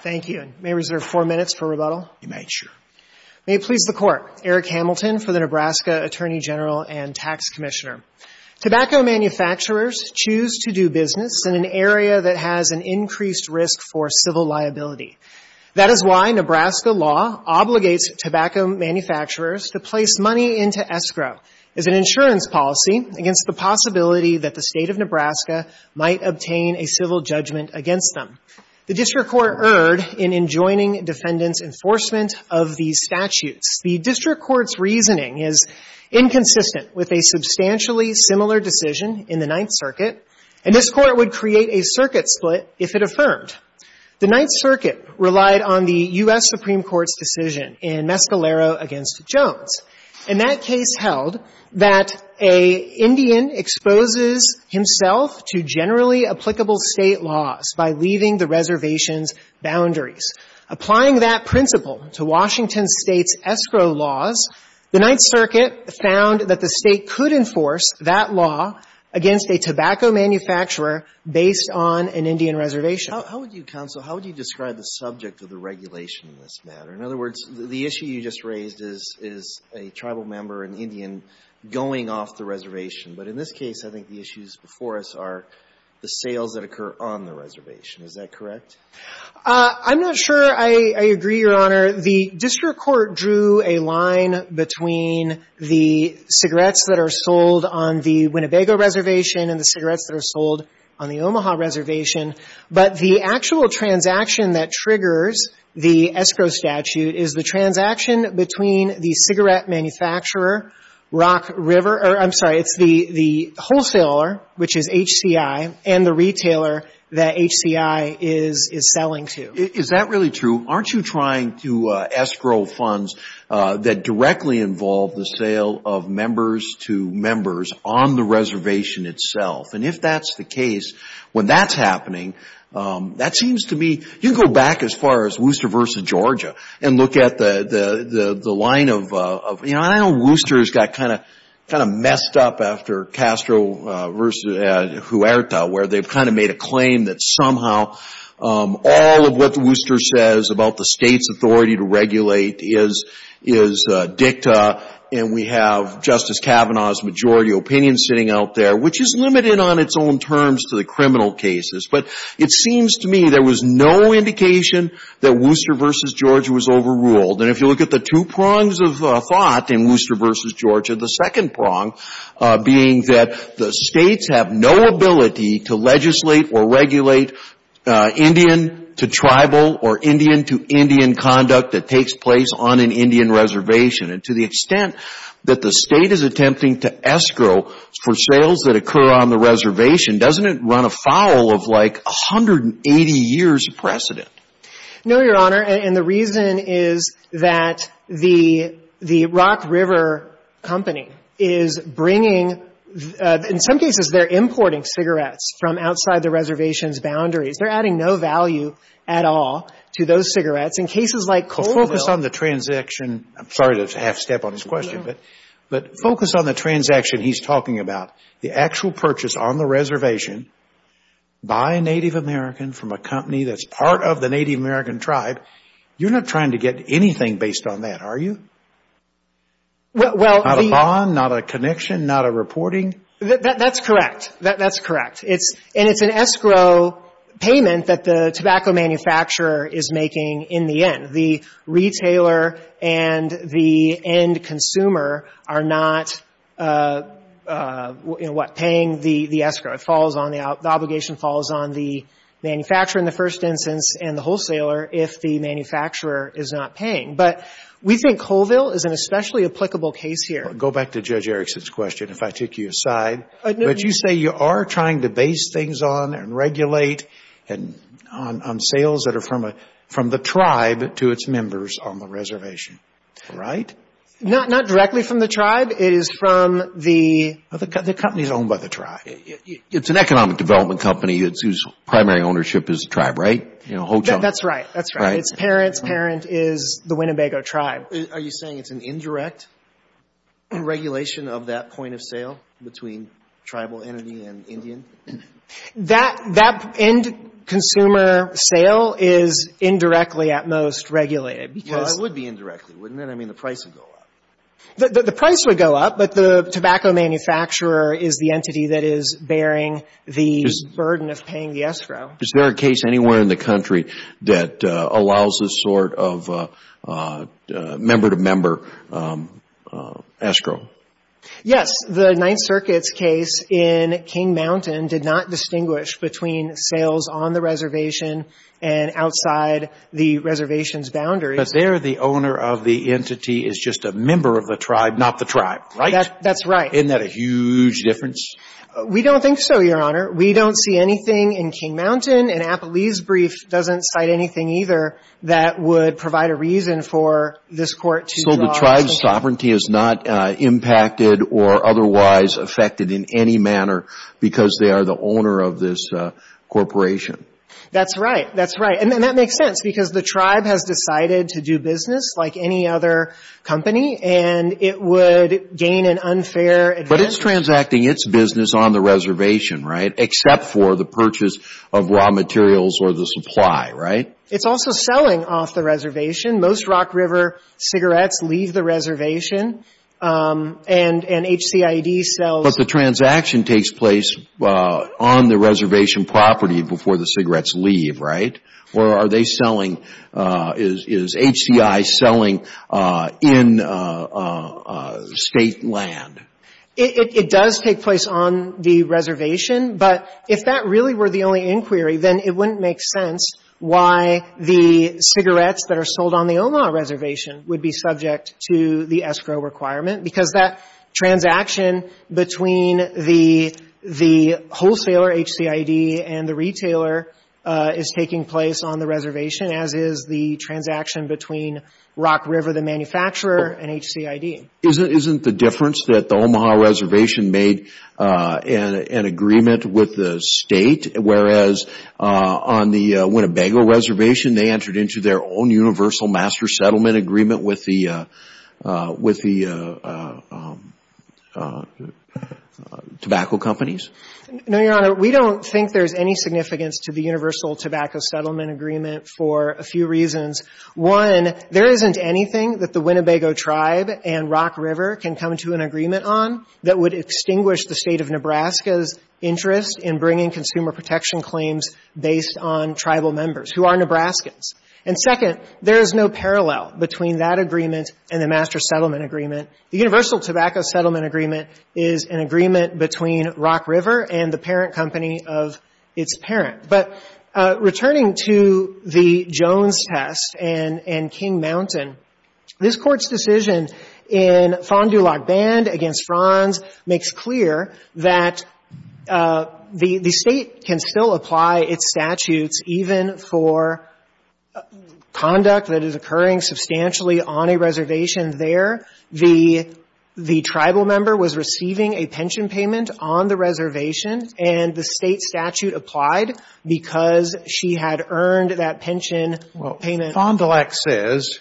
Thank you. May I reserve four minutes for rebuttal? You may, sure. May it please the Court, Eric Hamilton for the Nebraska Attorney General and Tax Commissioner. Tobacco manufacturers choose to do business in an area that has an increased risk for civil liability. That is why Nebraska law obligates tobacco manufacturers to place money into escrow as an insurance policy against the possibility that the State of Nebraska might obtain a civil judgment against them. The district court erred in enjoining defendants' enforcement of these statutes. The district court's reasoning is inconsistent with a substantially similar decision in the Ninth Circuit, and this Court would create a circuit split if it affirmed. The Ninth Circuit relied on the U.S. Supreme Court's decision in Mescalero v. Jones. In that case held that a Indian exposes himself to generally applicable State laws by leaving the reservation's boundaries. Applying that principle to Washington State's escrow laws, the Ninth Circuit found that the State could enforce that law against a tobacco manufacturer based on an Indian reservation. Alito How would you, counsel, how would you describe the subject of the regulation in this matter? In other words, the issue you just raised is a tribal member, an Indian, going off the reservation. But in this case, I think the issues before us are the sales that occur on the reservation. Is that correct? I'm not sure I agree, Your Honor. The district court drew a line between the cigarettes that are sold on the Winnebago reservation and the cigarettes that are sold on the Omaha reservation. But the actual transaction that triggers the escrow statute is the transaction between the cigarette manufacturer, Rock River or, I'm sorry, it's the wholesaler, which is HCI, and the retailer that HCI is selling to. Is that really true? Aren't you trying to escrow funds that directly involve the sale of members to members on the reservation itself? And if that's the case, when that's happening, that seems to me, you can go back as far as Wooster v. Georgia and look at the line of, you know, I know Wooster's got kind of messed up after Castro v. Huerta, where they've kind of made a claim that somehow all of what the Wooster says about the state's authority to regulate is dicta, and we have Justice Kavanaugh's majority opinion sitting out there, which is limited on its own terms to the criminal cases. But it seems to me there was no indication that Wooster v. Georgia was overruled. And if you look at the two prongs of thought in Wooster v. Georgia, the second prong being that the states have no ability to legislate or regulate Indian to tribal or Indian to Indian conduct that takes place on an Indian reservation. And to the extent that the State is attempting to escrow for sales that occur on the reservation, doesn't it run afoul of, like, 180 years of precedent? No, Your Honor. And the reason is that the Rock River Company is bringing — in some cases, they're importing cigarettes from outside the reservation's boundaries. They're adding no value at all to those cigarettes. In cases like Colville — Well, focus on the transition. I'm sorry to interrupt. I'm going to have to step on his question. But focus on the transaction he's talking about, the actual purchase on the reservation by a Native American from a company that's part of the Native American tribe. You're not trying to get anything based on that, are you? Well, the — Not a bond, not a connection, not a reporting? That's correct. That's correct. And it's an escrow payment that the tobacco manufacturer is making in the end. The retailer and the end consumer are not, you know, what, paying the escrow. It falls on — the obligation falls on the manufacturer in the first instance and the wholesaler if the manufacturer is not paying. But we think Colville is an especially applicable case here. Go back to Judge Erickson's question, if I take you aside. But you say you are trying to base things on and regulate and — on sales that are from the tribe to its members on the reservation, right? Not directly from the tribe. It is from the — The company is owned by the tribe. It's an economic development company whose primary ownership is the tribe, right? That's right. That's right. Right. Its parent's parent is the Winnebago tribe. Are you saying it's an indirect regulation of that point of sale between tribal entity and Indian? That — that end consumer sale is indirectly at most regulated because — Well, it would be indirectly, wouldn't it? I mean, the price would go up. The price would go up, but the tobacco manufacturer is the entity that is bearing the burden of paying the escrow. Is there a case anywhere in the country that allows this sort of member-to-member escrow? Yes. The Ninth Circuit's case in King Mountain did not distinguish between sales on the reservation and outside the reservation's boundaries. But there the owner of the entity is just a member of the tribe, not the tribe, right? That's right. Isn't that a huge difference? We don't think so, Your Honor. We don't see anything in King Mountain, and Appalee's brief doesn't cite anything either that would provide a reason for this Court to draw — So the tribe's sovereignty is not impacted or otherwise affected in any manner because they are the owner of this corporation? That's right. That's right. And that makes sense because the tribe has decided to do business like any other company, and it would gain an unfair advantage. But it's transacting its business on the reservation, right, except for the purchase of raw materials or the supply, right? It's also selling off the reservation. Most Rock River cigarettes leave the reservation, and HCIED sells — But the transaction takes place on the reservation property before the cigarettes leave, right? Or are they selling — is HCI selling in State land? It does take place on the reservation, but if that really were the only inquiry, then it wouldn't make sense why the cigarettes that are sold on the Omaha reservation would be subject to the escrow requirement because that transaction between the wholesaler, HCIED, and the retailer is taking place on the reservation, as is the transaction between Rock River, the manufacturer, and HCIED. Isn't the difference that the Omaha reservation made an agreement with the on the Winnebago reservation? They entered into their own universal master settlement agreement with the tobacco companies? No, Your Honor. We don't think there's any significance to the universal tobacco settlement agreement for a few reasons. One, there isn't anything that the Winnebago tribe and Rock River can come to an agreement on that would extinguish the State of Nebraska's interest in bringing consumer protection claims based on tribal members who are Nebraskans. And second, there is no parallel between that agreement and the master settlement agreement. The universal tobacco settlement agreement is an agreement between Rock River and the parent company of its parent. But returning to the Jones test and King Mountain, this Court's decision in the State can still apply its statutes even for conduct that is occurring substantially on a reservation there. The tribal member was receiving a pension payment on the reservation, and the State statute applied because she had earned that pension payment. Well, Fond du Lac says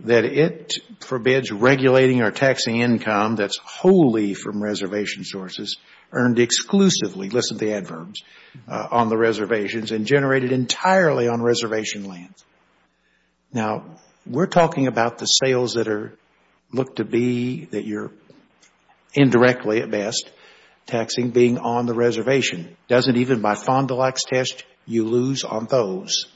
that it forbids regulating or taxing income that's wholly from reservation sources earned exclusively. Listen to the adverbs. On the reservations and generated entirely on reservation lands. Now, we're talking about the sales that are looked to be that you're indirectly at best taxing being on the reservation. Doesn't even my Fond du Lac's test you lose on those?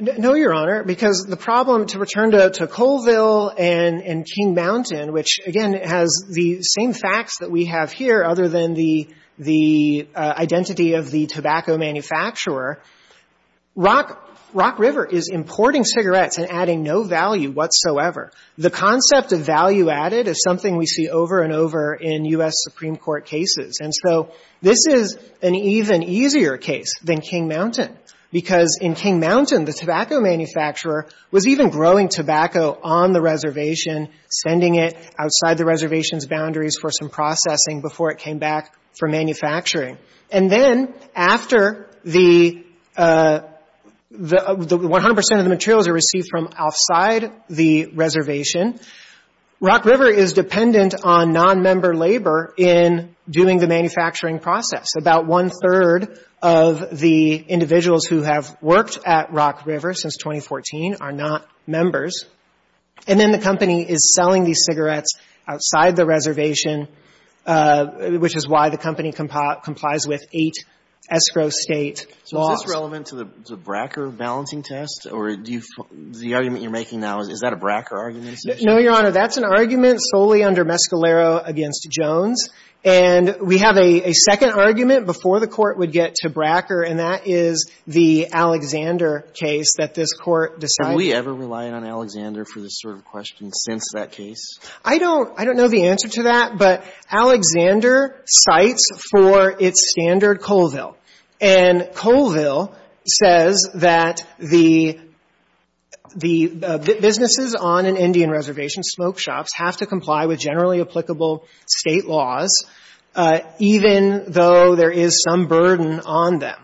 No, Your Honor, because the problem to return to Colville and King Mountain, which, again, has the same facts that we have here other than the identity of the tobacco manufacturer, Rock River is importing cigarettes and adding no value whatsoever. The concept of value added is something we see over and over in U.S. Supreme Court cases. And so this is an even easier case than King Mountain, because in King Mountain, the tobacco manufacturer was even growing tobacco on the reservation, sending it outside the reservation's boundaries for some processing before it came back for manufacturing. And then after the 100 percent of the materials are received from outside the reservation, Rock River is dependent on nonmember labor in doing the manufacturing process. About one-third of the individuals who have worked at Rock River since 2014 are not members. And then the company is selling these cigarettes outside the reservation, which is why the company complies with eight escrow state laws. So is this relevant to the Bracker balancing test? Or do you – the argument you're making now, is that a Bracker argument? No, Your Honor. That's an argument solely under Mescalero against Jones. And we have a second argument before the Court would get to Bracker, and that is the Alexander case that this Court decided. Have we ever relied on Alexander for this sort of question since that case? I don't – I don't know the answer to that, but Alexander cites for its standard Colville. And Colville says that the – the businesses on an Indian reservation smoke shops have to comply with generally applicable state laws, even though there is some burden on them.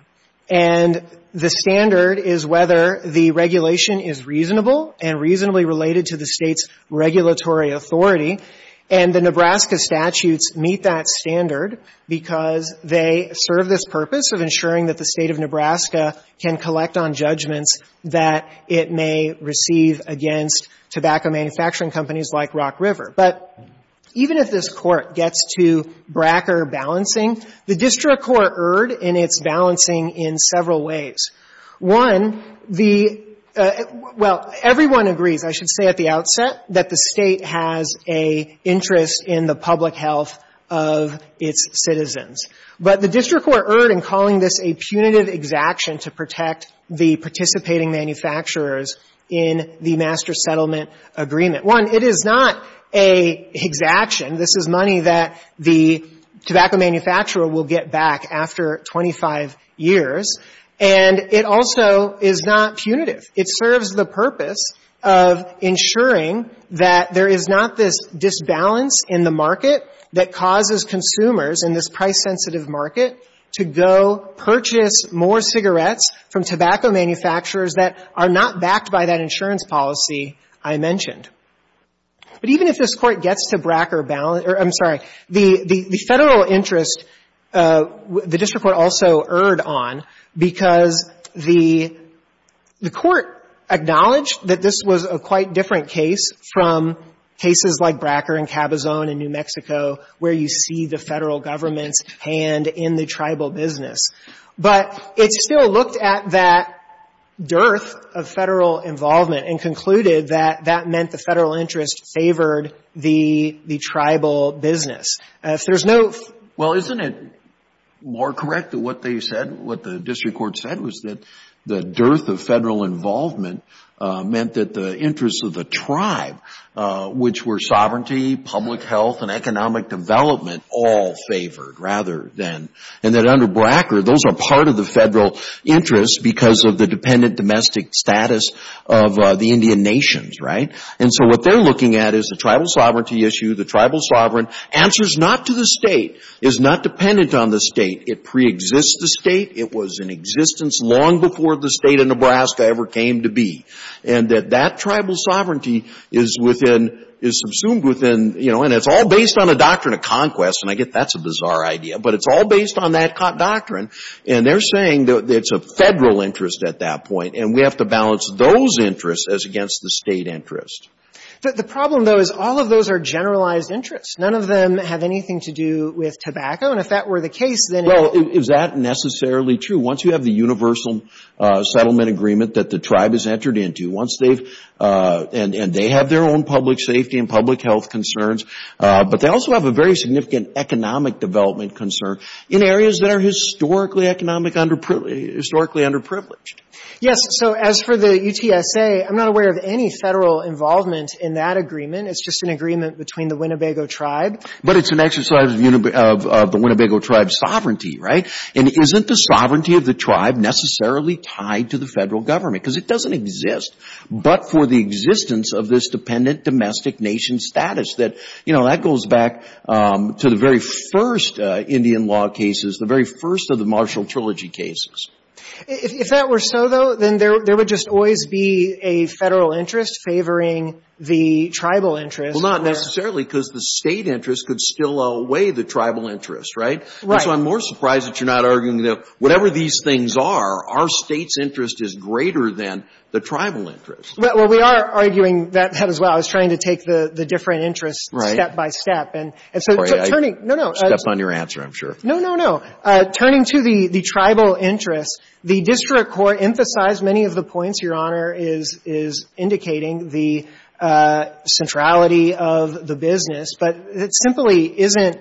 And the standard is whether the regulation is reasonable and reasonably related to the State's regulatory authority. And the Nebraska statutes meet that standard because they serve this purpose of ensuring that the State of Nebraska can collect on judgments that it may receive against tobacco manufacturing companies like Rock River. But even if this Court gets to Bracker balancing, the district court erred in its balancing in several ways. One, the – well, everyone agrees, I should say at the outset, that the State has a interest in the public health of its citizens. But the district court erred in calling this a punitive exaction to protect the participating manufacturers in the master settlement agreement. One, it is not a exaction. This is money that the tobacco manufacturer will get back after 25 years. And it also is not punitive. It serves the purpose of ensuring that there is not this disbalance in the market that causes consumers in this price-sensitive market to go purchase more cigarettes from tobacco manufacturers that are not backed by that insurance policy I mentioned. But even if this Court gets to Bracker balancing – I'm sorry, the Federal interest the district court also erred on because the Court acknowledged that this was a quite different case from cases like Bracker and Cabazon in New Mexico where you see the Federal government's hand in the tribal business. But it still looked at that dearth of Federal involvement and concluded that that Federal interest favored the tribal business. If there's no – Well, isn't it more correct that what they said, what the district court said, was that the dearth of Federal involvement meant that the interests of the tribe, which were sovereignty, public health, and economic development all favored rather than – and that under Bracker, those are part of the Federal interest because of the dependent domestic status of the Indian nations, right? And so what they're looking at is the tribal sovereignty issue, the tribal sovereign answers not to the state, is not dependent on the state. It preexists the state. It was in existence long before the state of Nebraska ever came to be. And that that tribal sovereignty is within – is subsumed within – you know, and it's all based on a doctrine of conquest, and I get that's a bizarre idea. But it's all based on that doctrine. And they're saying that it's a Federal interest at that point, and we have to The problem, though, is all of those are generalized interests. None of them have anything to do with tobacco. And if that were the case, then – Well, is that necessarily true? Once you have the universal settlement agreement that the tribe has entered into, once they've – and they have their own public safety and public health concerns, but they also have a very significant economic development concern in areas that are historically economic – historically underprivileged. Yes. So as for the UTSA, I'm not aware of any Federal involvement in that agreement. It's just an agreement between the Winnebago tribe. But it's an exercise of the Winnebago tribe's sovereignty, right? And isn't the sovereignty of the tribe necessarily tied to the Federal government? Because it doesn't exist but for the existence of this dependent domestic nation status that – you know, that goes back to the very first Indian law cases, the very first of the Marshall Trilogy cases. If that were so, though, then there would just always be a Federal interest favoring the tribal interest. Well, not necessarily because the State interest could still outweigh the tribal interest, right? Right. And so I'm more surprised that you're not arguing that whatever these things are, our State's interest is greater than the tribal interest. Well, we are arguing that as well. I was trying to take the different interests step by step. Right. And so turning – no, no. Step on your answer, I'm sure. No, no, no. Turning to the tribal interest, the district court emphasized many of the points Your Honor is indicating, the centrality of the business. But it simply isn't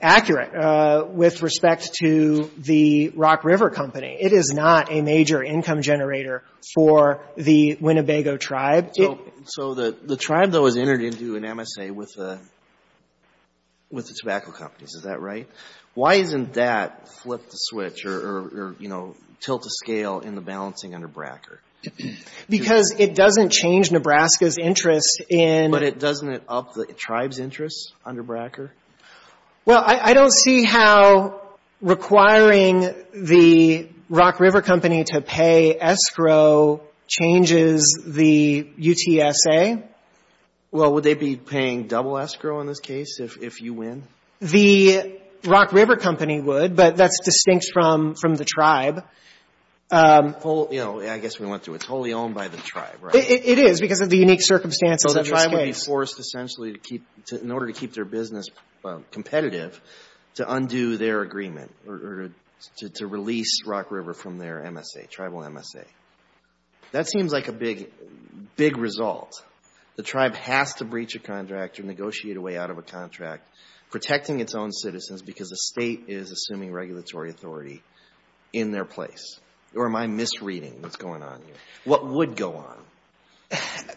accurate with respect to the Rock River Company. It is not a major income generator for the Winnebago tribe. So the tribe, though, is entered into an MSA with the tobacco companies. Is that right? Why isn't that flip the switch or, you know, tilt the scale in the balancing under Bracker? Because it doesn't change Nebraska's interest in But doesn't it up the tribe's interest under Bracker? Well, I don't see how requiring the Rock River Company to pay escrow changes the UTSA. Well, would they be paying double escrow in this case if you win? The Rock River Company would, but that's distinct from the tribe. Well, you know, I guess we went through it. It's wholly owned by the tribe, right? It is because of the unique circumstances of the tribe ways. So they're just going to be forced essentially to keep – in order to keep their business competitive to undo their agreement or to release Rock River from their MSA, tribal MSA. That seems like a big, big result. The tribe has to breach a contract or negotiate a way out of a contract protecting its own citizens because the state is assuming regulatory authority in their place. Or am I misreading what's going on here? What would go on?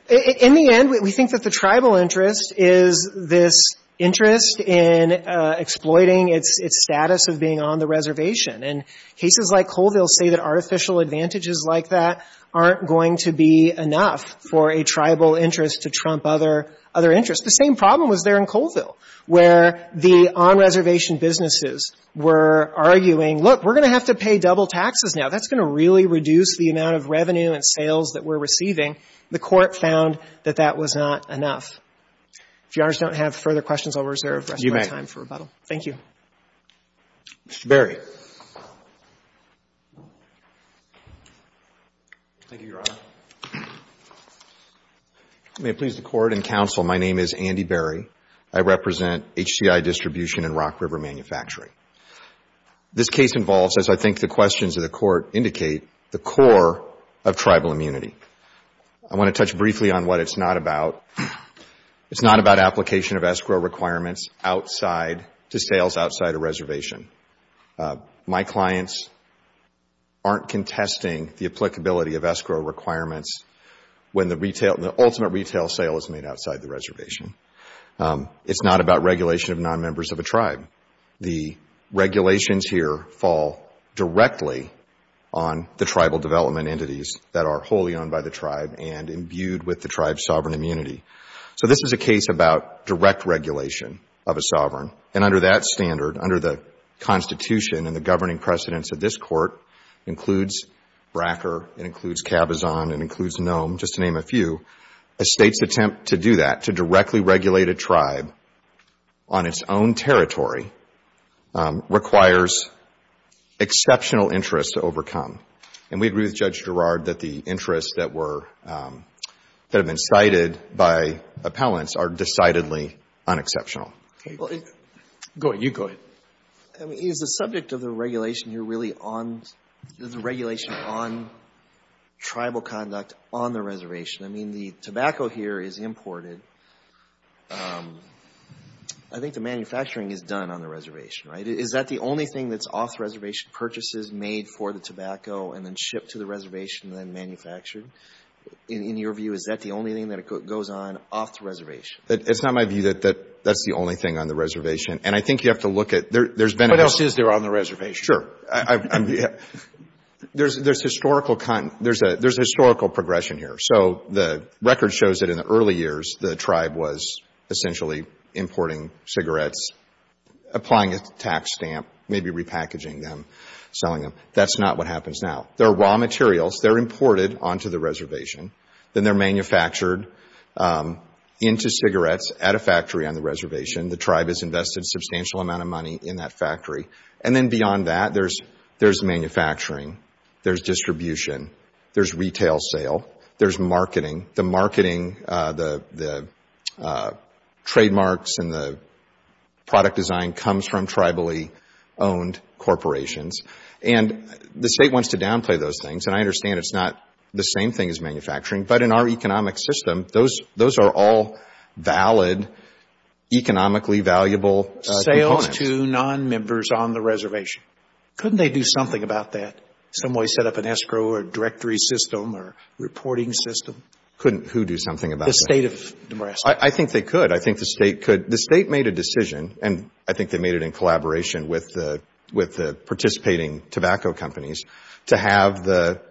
In the end, we think that the tribal interest is this interest in exploiting its status of being on the reservation. And cases like Colville say that artificial advantages like that aren't going to be enough for a tribal interest to trump other interests. The same problem was there in Colville where the on-reservation businesses were arguing, look, we're going to have to pay double taxes now. That's going to really reduce the amount of revenue and sales that we're receiving. The Court found that that was not enough. If Your Honors don't have further questions, I'll reserve the rest of my time for rebuttal. You may. Thank you. Mr. Berry. Thank you, Your Honor. May it please the Court and Counsel, my name is Andy Berry. I represent HCI Distribution and Rock River Manufacturing. This case involves, as I think the questions of the Court indicate, the core of tribal immunity. I want to touch briefly on what it's not about. It's not about application of escrow requirements outside to sales outside a reservation. My clients aren't contesting the applicability of escrow requirements when the ultimate retail sale is made outside the reservation. It's not about regulation of non-members of a tribe. The regulations here fall directly on the tribal development entities that are wholly owned by the tribe and imbued with the tribe's sovereign immunity. And under that standard, under the Constitution and the governing precedents of this Court, includes Bracker, it includes Cabazon, it includes Nome, just to name a few, a State's attempt to do that, to directly regulate a tribe on its own territory, requires exceptional interest to overcome. And we agree with Judge Girard that the interests that were, that have been cited by appellants are decidedly unexceptional. Okay. Go ahead. You go ahead. Is the subject of the regulation here really on, the regulation on tribal conduct on the reservation? I mean, the tobacco here is imported. I think the manufacturing is done on the reservation, right? Is that the only thing that's off-reservation purchases made for the tobacco and then shipped to the reservation and then manufactured? In your view, is that the only thing that goes on off the reservation? It's not my view that that's the only thing on the reservation. And I think you have to look at, there's been a What else is there on the reservation? Sure. There's historical, there's a historical progression here. So the record shows that in the early years, the tribe was essentially importing cigarettes, applying a tax stamp, maybe repackaging them, selling them. That's not what happens now. They're raw materials. They're imported onto the reservation. Then they're manufactured into cigarettes at a factory on the reservation. The tribe has invested a substantial amount of money in that factory. And then beyond that, there's manufacturing. There's distribution. There's retail sale. There's marketing. The marketing, the trademarks and the product design comes from tribally owned corporations. And the state wants to downplay those things. And I understand it's not the same thing as manufacturing. But in our economic system, those are all valid, economically valuable components. Sales to non-members on the reservation. Couldn't they do something about that? Some way set up an escrow or directory system or reporting system? Couldn't who do something about that? The state of Nebraska. I think they could. I think the state could. The state made a decision, and I think they made it in collaboration with the participating tobacco companies, to have the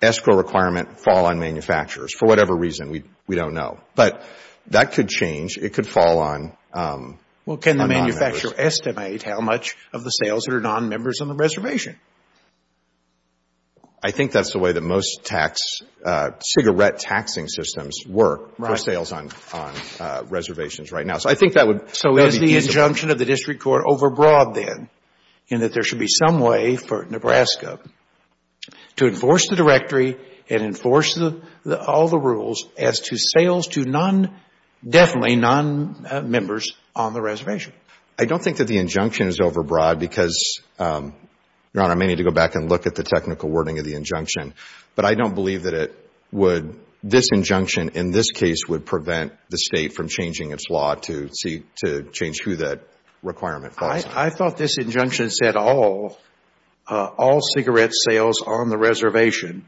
escrow requirement fall on manufacturers for whatever reason. We don't know. But that could change. It could fall on non-members. Well, can the manufacturer estimate how much of the sales are non-members on the reservation? I think that's the way that most cigarette taxing systems work for sales on reservations right now. So I think that would be easy. Is the injunction of the district court overbroad, then, in that there should be some way for Nebraska to enforce the directory and enforce all the rules as to sales to definitely non-members on the reservation? I don't think that the injunction is overbroad because, Your Honor, I may need to go back and look at the technical wording of the injunction. But I don't believe that this injunction, in this case, would prevent the state from changing its law to change who that requirement falls on. I thought this injunction said all cigarette sales on the reservation,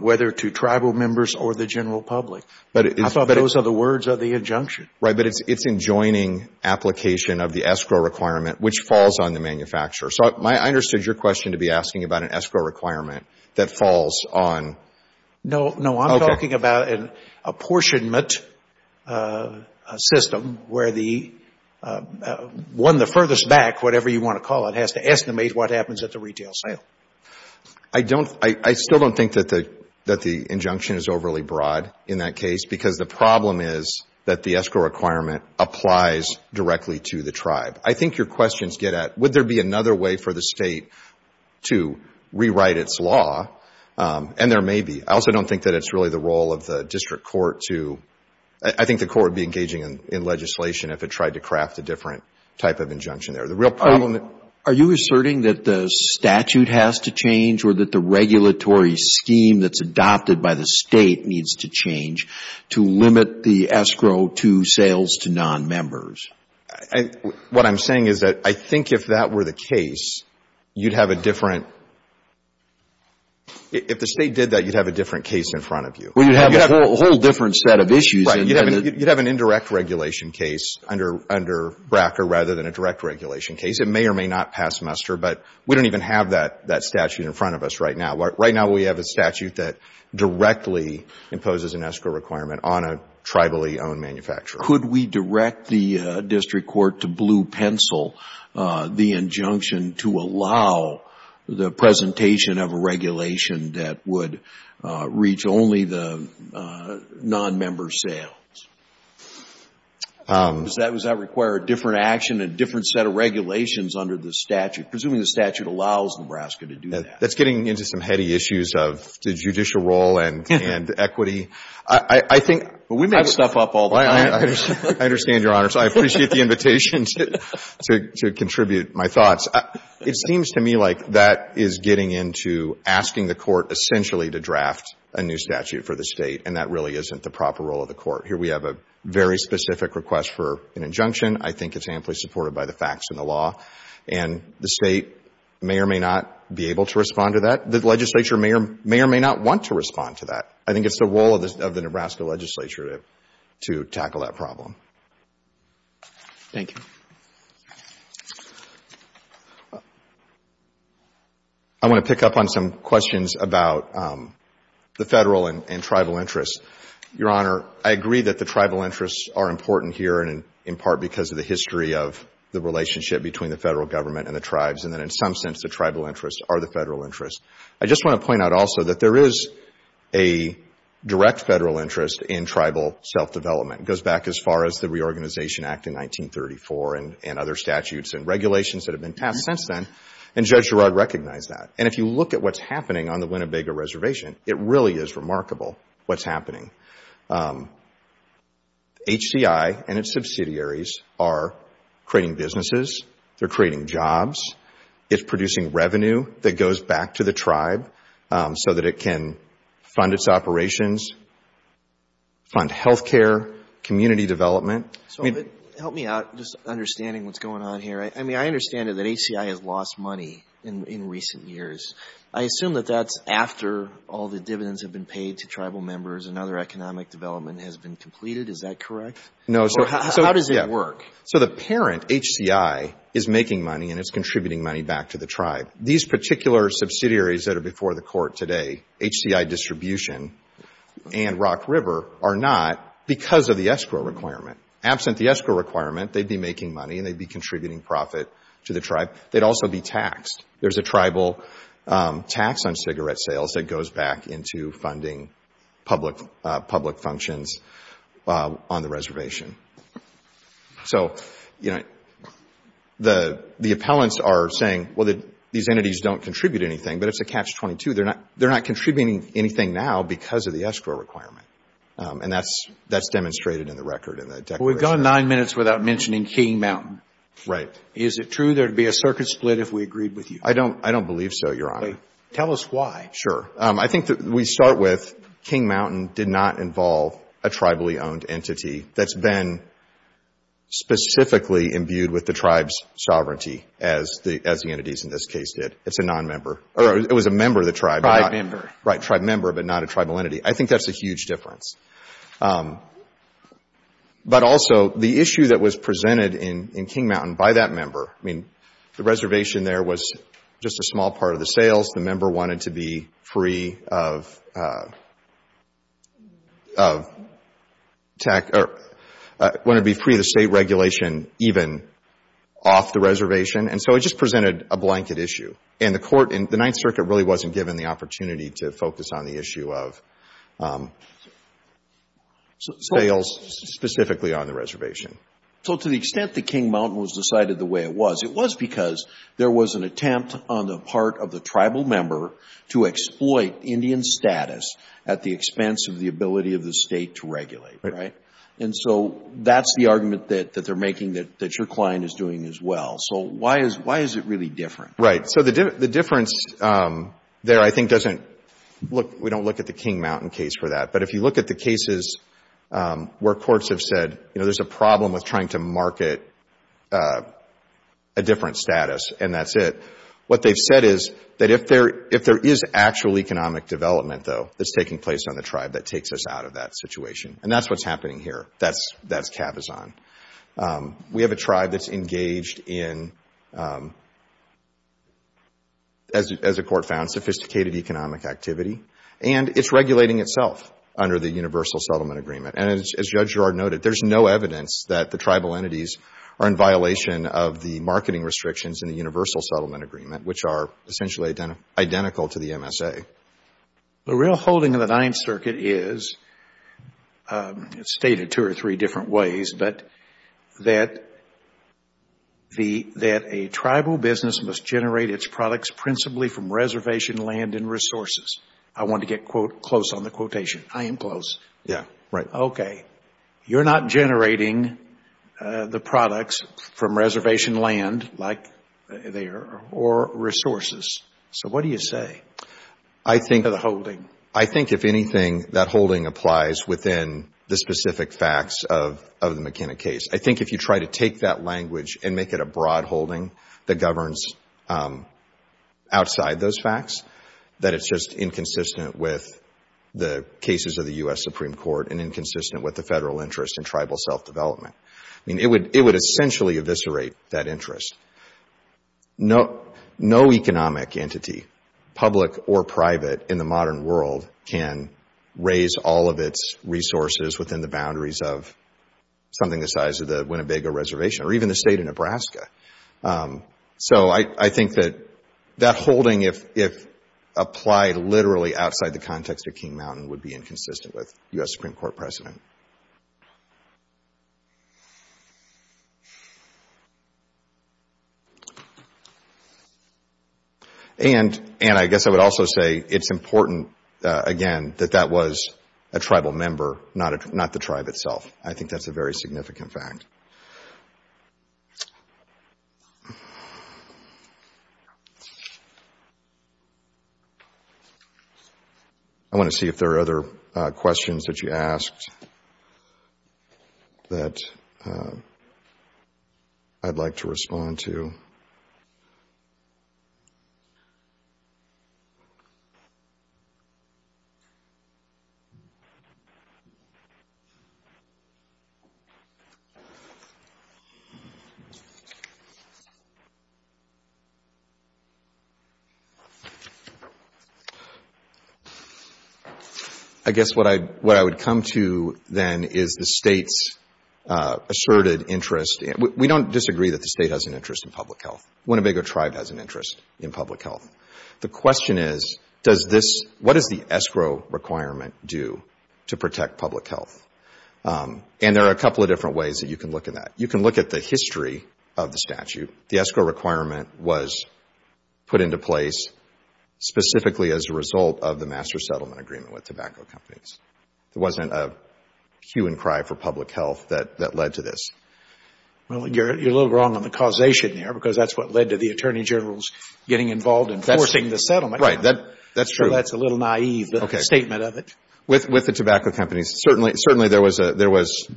whether to tribal members or the general public. I thought those are the words of the injunction. Right. But it's enjoining application of the escrow requirement, which falls on the manufacturer. So I understood your question to be asking about an escrow requirement that falls on... a system where the... one the furthest back, whatever you want to call it, has to estimate what happens at the retail sale. I don't... I still don't think that the injunction is overly broad in that case because the problem is that the escrow requirement applies directly to the tribe. I think your questions get at, would there be another way for the state to rewrite its law? And there may be. I also don't think that it's really the role of the district court to... I think the court would be engaging in legislation if it tried to craft a different type of injunction there. The real problem... Are you asserting that the statute has to change or that the regulatory scheme that's adopted by the state needs to change to limit the escrow to sales to non-members? What I'm saying is that I think if that were the case, you'd have a different... If the state did that, you'd have a different case in front of you. Well, you'd have a whole different set of issues. Right. You'd have an indirect regulation case under BRCA rather than a direct regulation case. It may or may not pass muster, but we don't even have that statute in front of us right now. Right now, we have a statute that directly imposes an escrow requirement on a tribally owned manufacturer. Could we direct the district court to blue pencil the injunction to allow the non-member sales? Does that require a different action, a different set of regulations under the statute? Presuming the statute allows Nebraska to do that. That's getting into some heady issues of the judicial role and equity. I think... But we make stuff up all the time. I understand, Your Honor. So I appreciate the invitation to contribute my thoughts. It seems to me like that is getting into asking the court essentially to draft a new statute for the state and that really isn't the proper role of the court. Here we have a very specific request for an injunction. I think it's amply supported by the facts and the law. And the state may or may not be able to respond to that. The legislature may or may not want to respond to that. I think it's the role of the Nebraska legislature to tackle that problem. Thank you. I want to pick up on some questions about the federal and tribal interests. Your Honor, I agree that the tribal interests are important here and in part because of the history of the relationship between the federal government and the tribes. And then in some sense, the tribal interests are the federal interests. I just want to point out also that there is a direct federal interest in tribal self-development. It goes back as far as the Reorganization Act in 1934. And other statutes and regulations that have been passed since then. And Judge Girard recognized that. And if you look at what's happening on the Winnebago Reservation, it really is remarkable what's happening. HCI and its subsidiaries are creating businesses. They're creating jobs. It's producing revenue that goes back to the tribe so that it can fund its operations, fund healthcare, community development. So help me out just understanding what's going on here. I mean, I understand that HCI has lost money in recent years. I assume that that's after all the dividends have been paid to tribal members and other economic development has been completed. Is that correct? No. How does it work? So the parent, HCI, is making money and it's contributing money back to the tribe. These particular subsidiaries that are before the Court today, HCI Distribution and Rock River, are not because of the escrow requirement. Absent the escrow requirement, they'd be making money and they'd be contributing profit to the tribe. They'd also be taxed. There's a tribal tax on cigarette sales that goes back into funding public functions on the reservation. So, you know, the appellants are saying, well, these entities don't contribute anything. But it's a catch-22. They're not contributing anything now because of the escrow requirement. And that's demonstrated in the record. We've gone nine minutes without mentioning King Mountain. Right. Is it true there would be a circuit split if we agreed with you? I don't believe so, Your Honor. Tell us why. Sure. I think that we start with King Mountain did not involve a tribally owned entity that's been specifically imbued with the tribe's sovereignty as the entities in this case did. It's a non-member. It was a member of the tribe. Tribe member. Right. Tribe member, but not a tribal entity. I think that's a huge difference. But also, the issue that was presented in King Mountain by that member, I mean, the reservation there was just a small part of the sales. The member wanted to be free of the state regulation even off the reservation. And so it just presented a blanket issue. And the Ninth Circuit really wasn't given the opportunity to focus on the issue of sales specifically on the reservation. So to the extent that King Mountain was decided the way it was, it was because there was an attempt on the part of the tribal member to exploit Indian status at the expense of the ability of the state to regulate. Right. And so that's the argument that they're making that your client is doing as well. So why is it really different? Right. So the difference there I think doesn't look, we don't look at the King Mountain case for that. But if you look at the cases where courts have said, you know, there's a problem with trying to market a different status and that's it. What they've said is that if there is actual economic development though that's taking place on the tribe that takes us out of that situation. And that's what's happening here. That's cabazon. We have a tribe that's engaged in, as a court found, sophisticated economic activity. And it's regulating itself under the Universal Settlement Agreement. And as Judge Gerard noted, there's no evidence that the tribal entities are in violation of the marketing restrictions in the Universal Settlement Agreement which are essentially identical to the MSA. The real holding of the Ninth Circuit is, it's stated two or three different ways, but that a tribal business must generate its products principally from reservation land and resources. I want to get close on the quotation. I am close. Yeah. Right. Okay. You're not generating the products from reservation land like they are or resources. So what do you say to the holding? I think if anything, that holding applies within the specific facts of the McKenna case. I think if you try to take that language and make it a broad holding that governs outside those facts, that it's just inconsistent with the cases of the U.S. Supreme Court and inconsistent with the federal interest in tribal self-development. I mean, it would essentially eviscerate that interest. No economic entity, public or private, in the modern world can raise all of its resources within the boundaries of something the size of the Winnebago Reservation or even the state of Nebraska. So I think that that holding, if applied literally outside the context of King Mountain, would be inconsistent with U.S. Supreme Court precedent. And I guess I would also say it's important, again, that that was a tribal member, not the tribe itself. I think that's a very significant fact. I want to see if there are other questions that you asked. That I'd like to respond to. Thank you. I guess what I would come to then is the state's asserted interest. We don't disagree that the state has an interest in public health. Winnebago Tribe has an interest in public health. The question is, what does the escrow requirement do to protect public health? And there are a couple of different ways that you can look at that. You can look at the history of the statute. The escrow requirement was put into place specifically as a result of the master settlement agreement with tobacco companies. There wasn't a hue and cry for public health that led to this. Well, you're a little wrong on the causation there because that's what led to the Attorney General's getting involved in forcing the settlement. Right, that's true. That's a little naive statement of it. With the tobacco companies, certainly there was, at least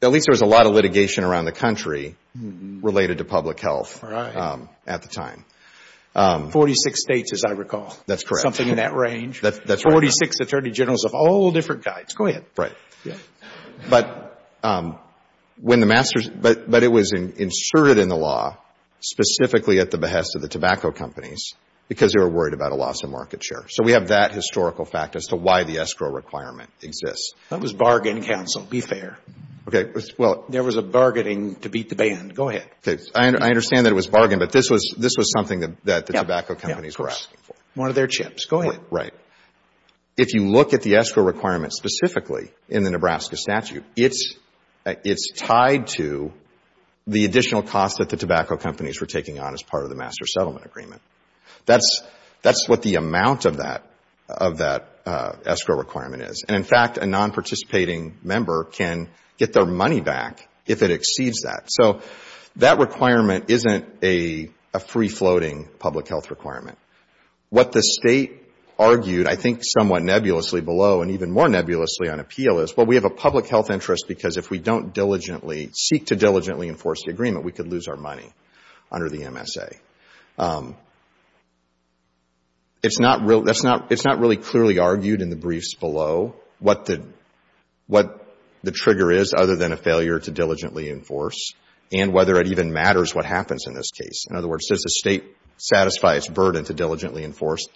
there was a lot of litigation around the country related to public health at the time. Forty-six states, as I recall. That's correct. Something in that range. That's right. Forty-six Attorney Generals of all different kinds. Go ahead. Right. But it was inserted in the law specifically at the behest of the tobacco companies because they were worried about a loss of market share. So we have that historical fact as to why the escrow requirement exists. That was bargain, counsel. Be fair. Okay. There was a bargaining to beat the band. Go ahead. Okay. I understand that it was bargain, but this was something that the tobacco companies were asking for. Yeah, of course. One of their chips. Go ahead. Right. If you look at the escrow requirement specifically in the Nebraska statute, it's tied to the additional costs that the tobacco companies were taking on as part of the master settlement agreement. That's what the amount of that escrow requirement is. And, in fact, a non-participating member can get their money back if it exceeds that. So that requirement isn't a free-floating public health requirement. What the state argued, I think somewhat nebulously below and even more nebulously on appeal, is, well, we have a public health interest because if we don't diligently, seek to diligently enforce the agreement, we could lose our money under the MSA. It's not really clearly argued in the briefs below what the trigger is other than a failure to diligently enforce and whether it even matters what happens in this case. In other words, does the state satisfy its burden to diligently enforce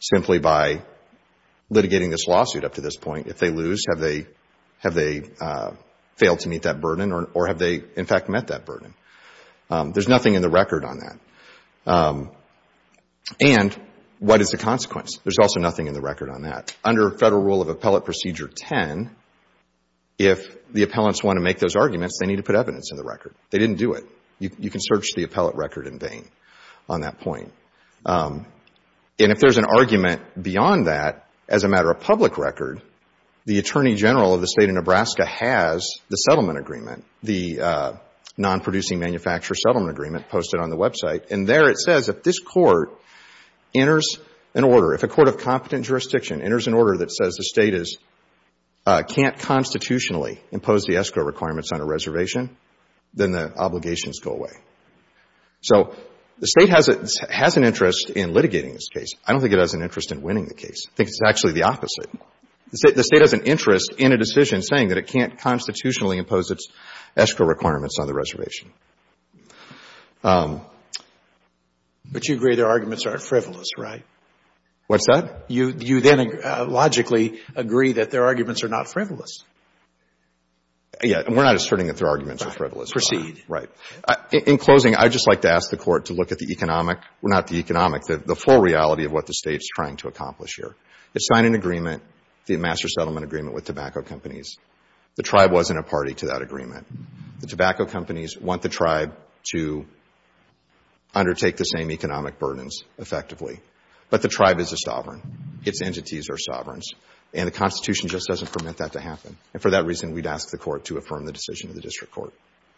simply by litigating this lawsuit up to this point? If they lose, have they failed to meet that burden or have they, in fact, met that burden? There's nothing in the record on that. And what is the consequence? There's also nothing in the record on that. Under Federal Rule of Appellate Procedure 10, if the appellants want to make those arguments, they need to put evidence in the record. They didn't do it. You can search the appellate record in vain on that point. And if there's an argument beyond that as a matter of public record, the Attorney General of the State of Nebraska has the settlement agreement, the non-producing manufacturer settlement agreement posted on the website. And there it says if this court enters an order, if a court of competent jurisdiction enters an order that says the State can't constitutionally impose the ESCO requirements on a reservation, then the obligations go away. So the State has an interest in litigating this case. I don't think it has an interest in winning the case. I think it's actually the opposite. The State has an interest in a decision saying that it can't constitutionally impose its ESCO requirements on the reservation. But you agree their arguments aren't frivolous, right? What's that? You then logically agree that their arguments are not frivolous. Yeah, and we're not asserting that their arguments are frivolous. Proceed. Right. In closing, I'd just like to ask the Court to look at the economic, not the economic, the full reality of what the State is trying to accomplish here. It signed an agreement, the master settlement agreement with tobacco companies. The tribe wasn't a party to that agreement. The tobacco companies want the tribe to undertake the same economic burdens effectively. But the tribe is a sovereign. Its entities are sovereigns. And the Constitution just doesn't permit that to happen. And for that reason, we'd ask the Court to affirm the decision of the District Court.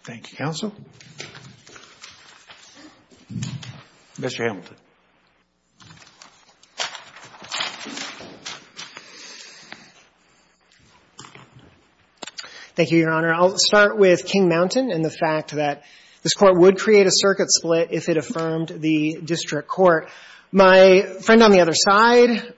Thank you, counsel. Mr. Hamilton. Thank you, Your Honor. I'll start with King Mountain and the fact that this Court would create a circuit split if it affirmed the District Court. My friend on the other side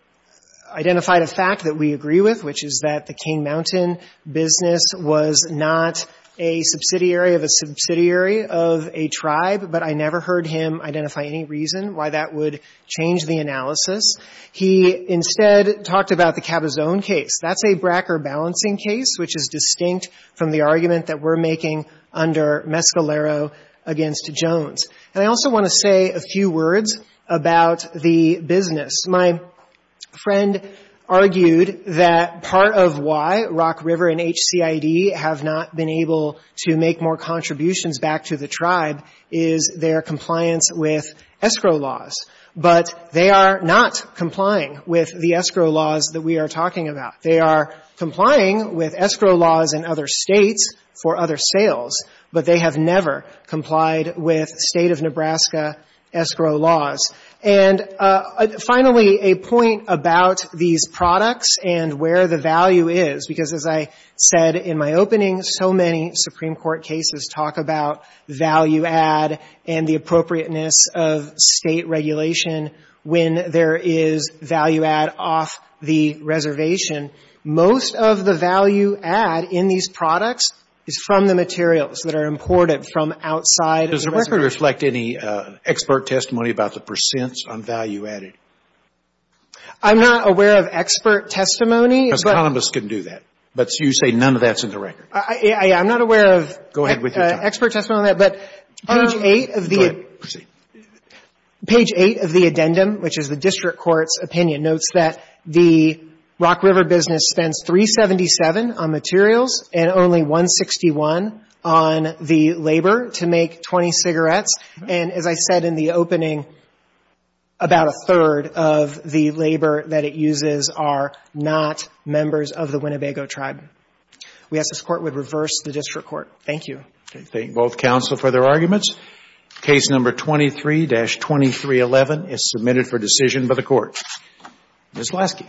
identified a fact that we agree with, which is that the King Mountain business was not a subsidiary of a subsidiary of a tribe, but I never heard him identify any reason why that would change the analysis. He instead talked about the Cabazon case. That's a Bracker balancing case, which is distinct from the argument that we're making under Mescalero against Jones. And I also want to say a few words about the business. My friend argued that part of why Rock River and HCID have not been able to make more contributions back to the tribe is their compliance with escrow laws. But they are not complying with the escrow laws that we are talking about. They are complying with escrow laws in other States for other sales, but they have never complied with State of Nebraska escrow laws. And finally, a point about these products and where the value is, because as I said in my opening, so many Supreme Court cases talk about value add and the appropriateness of State regulation when there is value add off the reservation. Most of the value add in these products is from the materials that are imported from outside the reservation. Does the record reflect any expert testimony about the percents on value added? I'm not aware of expert testimony. Because economists can do that, but you say none of that's in the record. I'm not aware of expert testimony on that, but page 8 of the addendum, which is the district court's opinion, notes that the Rock River business spends $377 on materials and only $161 on the labor to make 20 cigarettes. And as I said in the opening, about a third of the labor that it uses are not members of the Winnebago tribe. We ask this Court would reverse the district court. Thank you. Okay. Thank both counsel for their arguments. Case number 23-2311 is submitted for decision by the Court. Ms. Vlasky.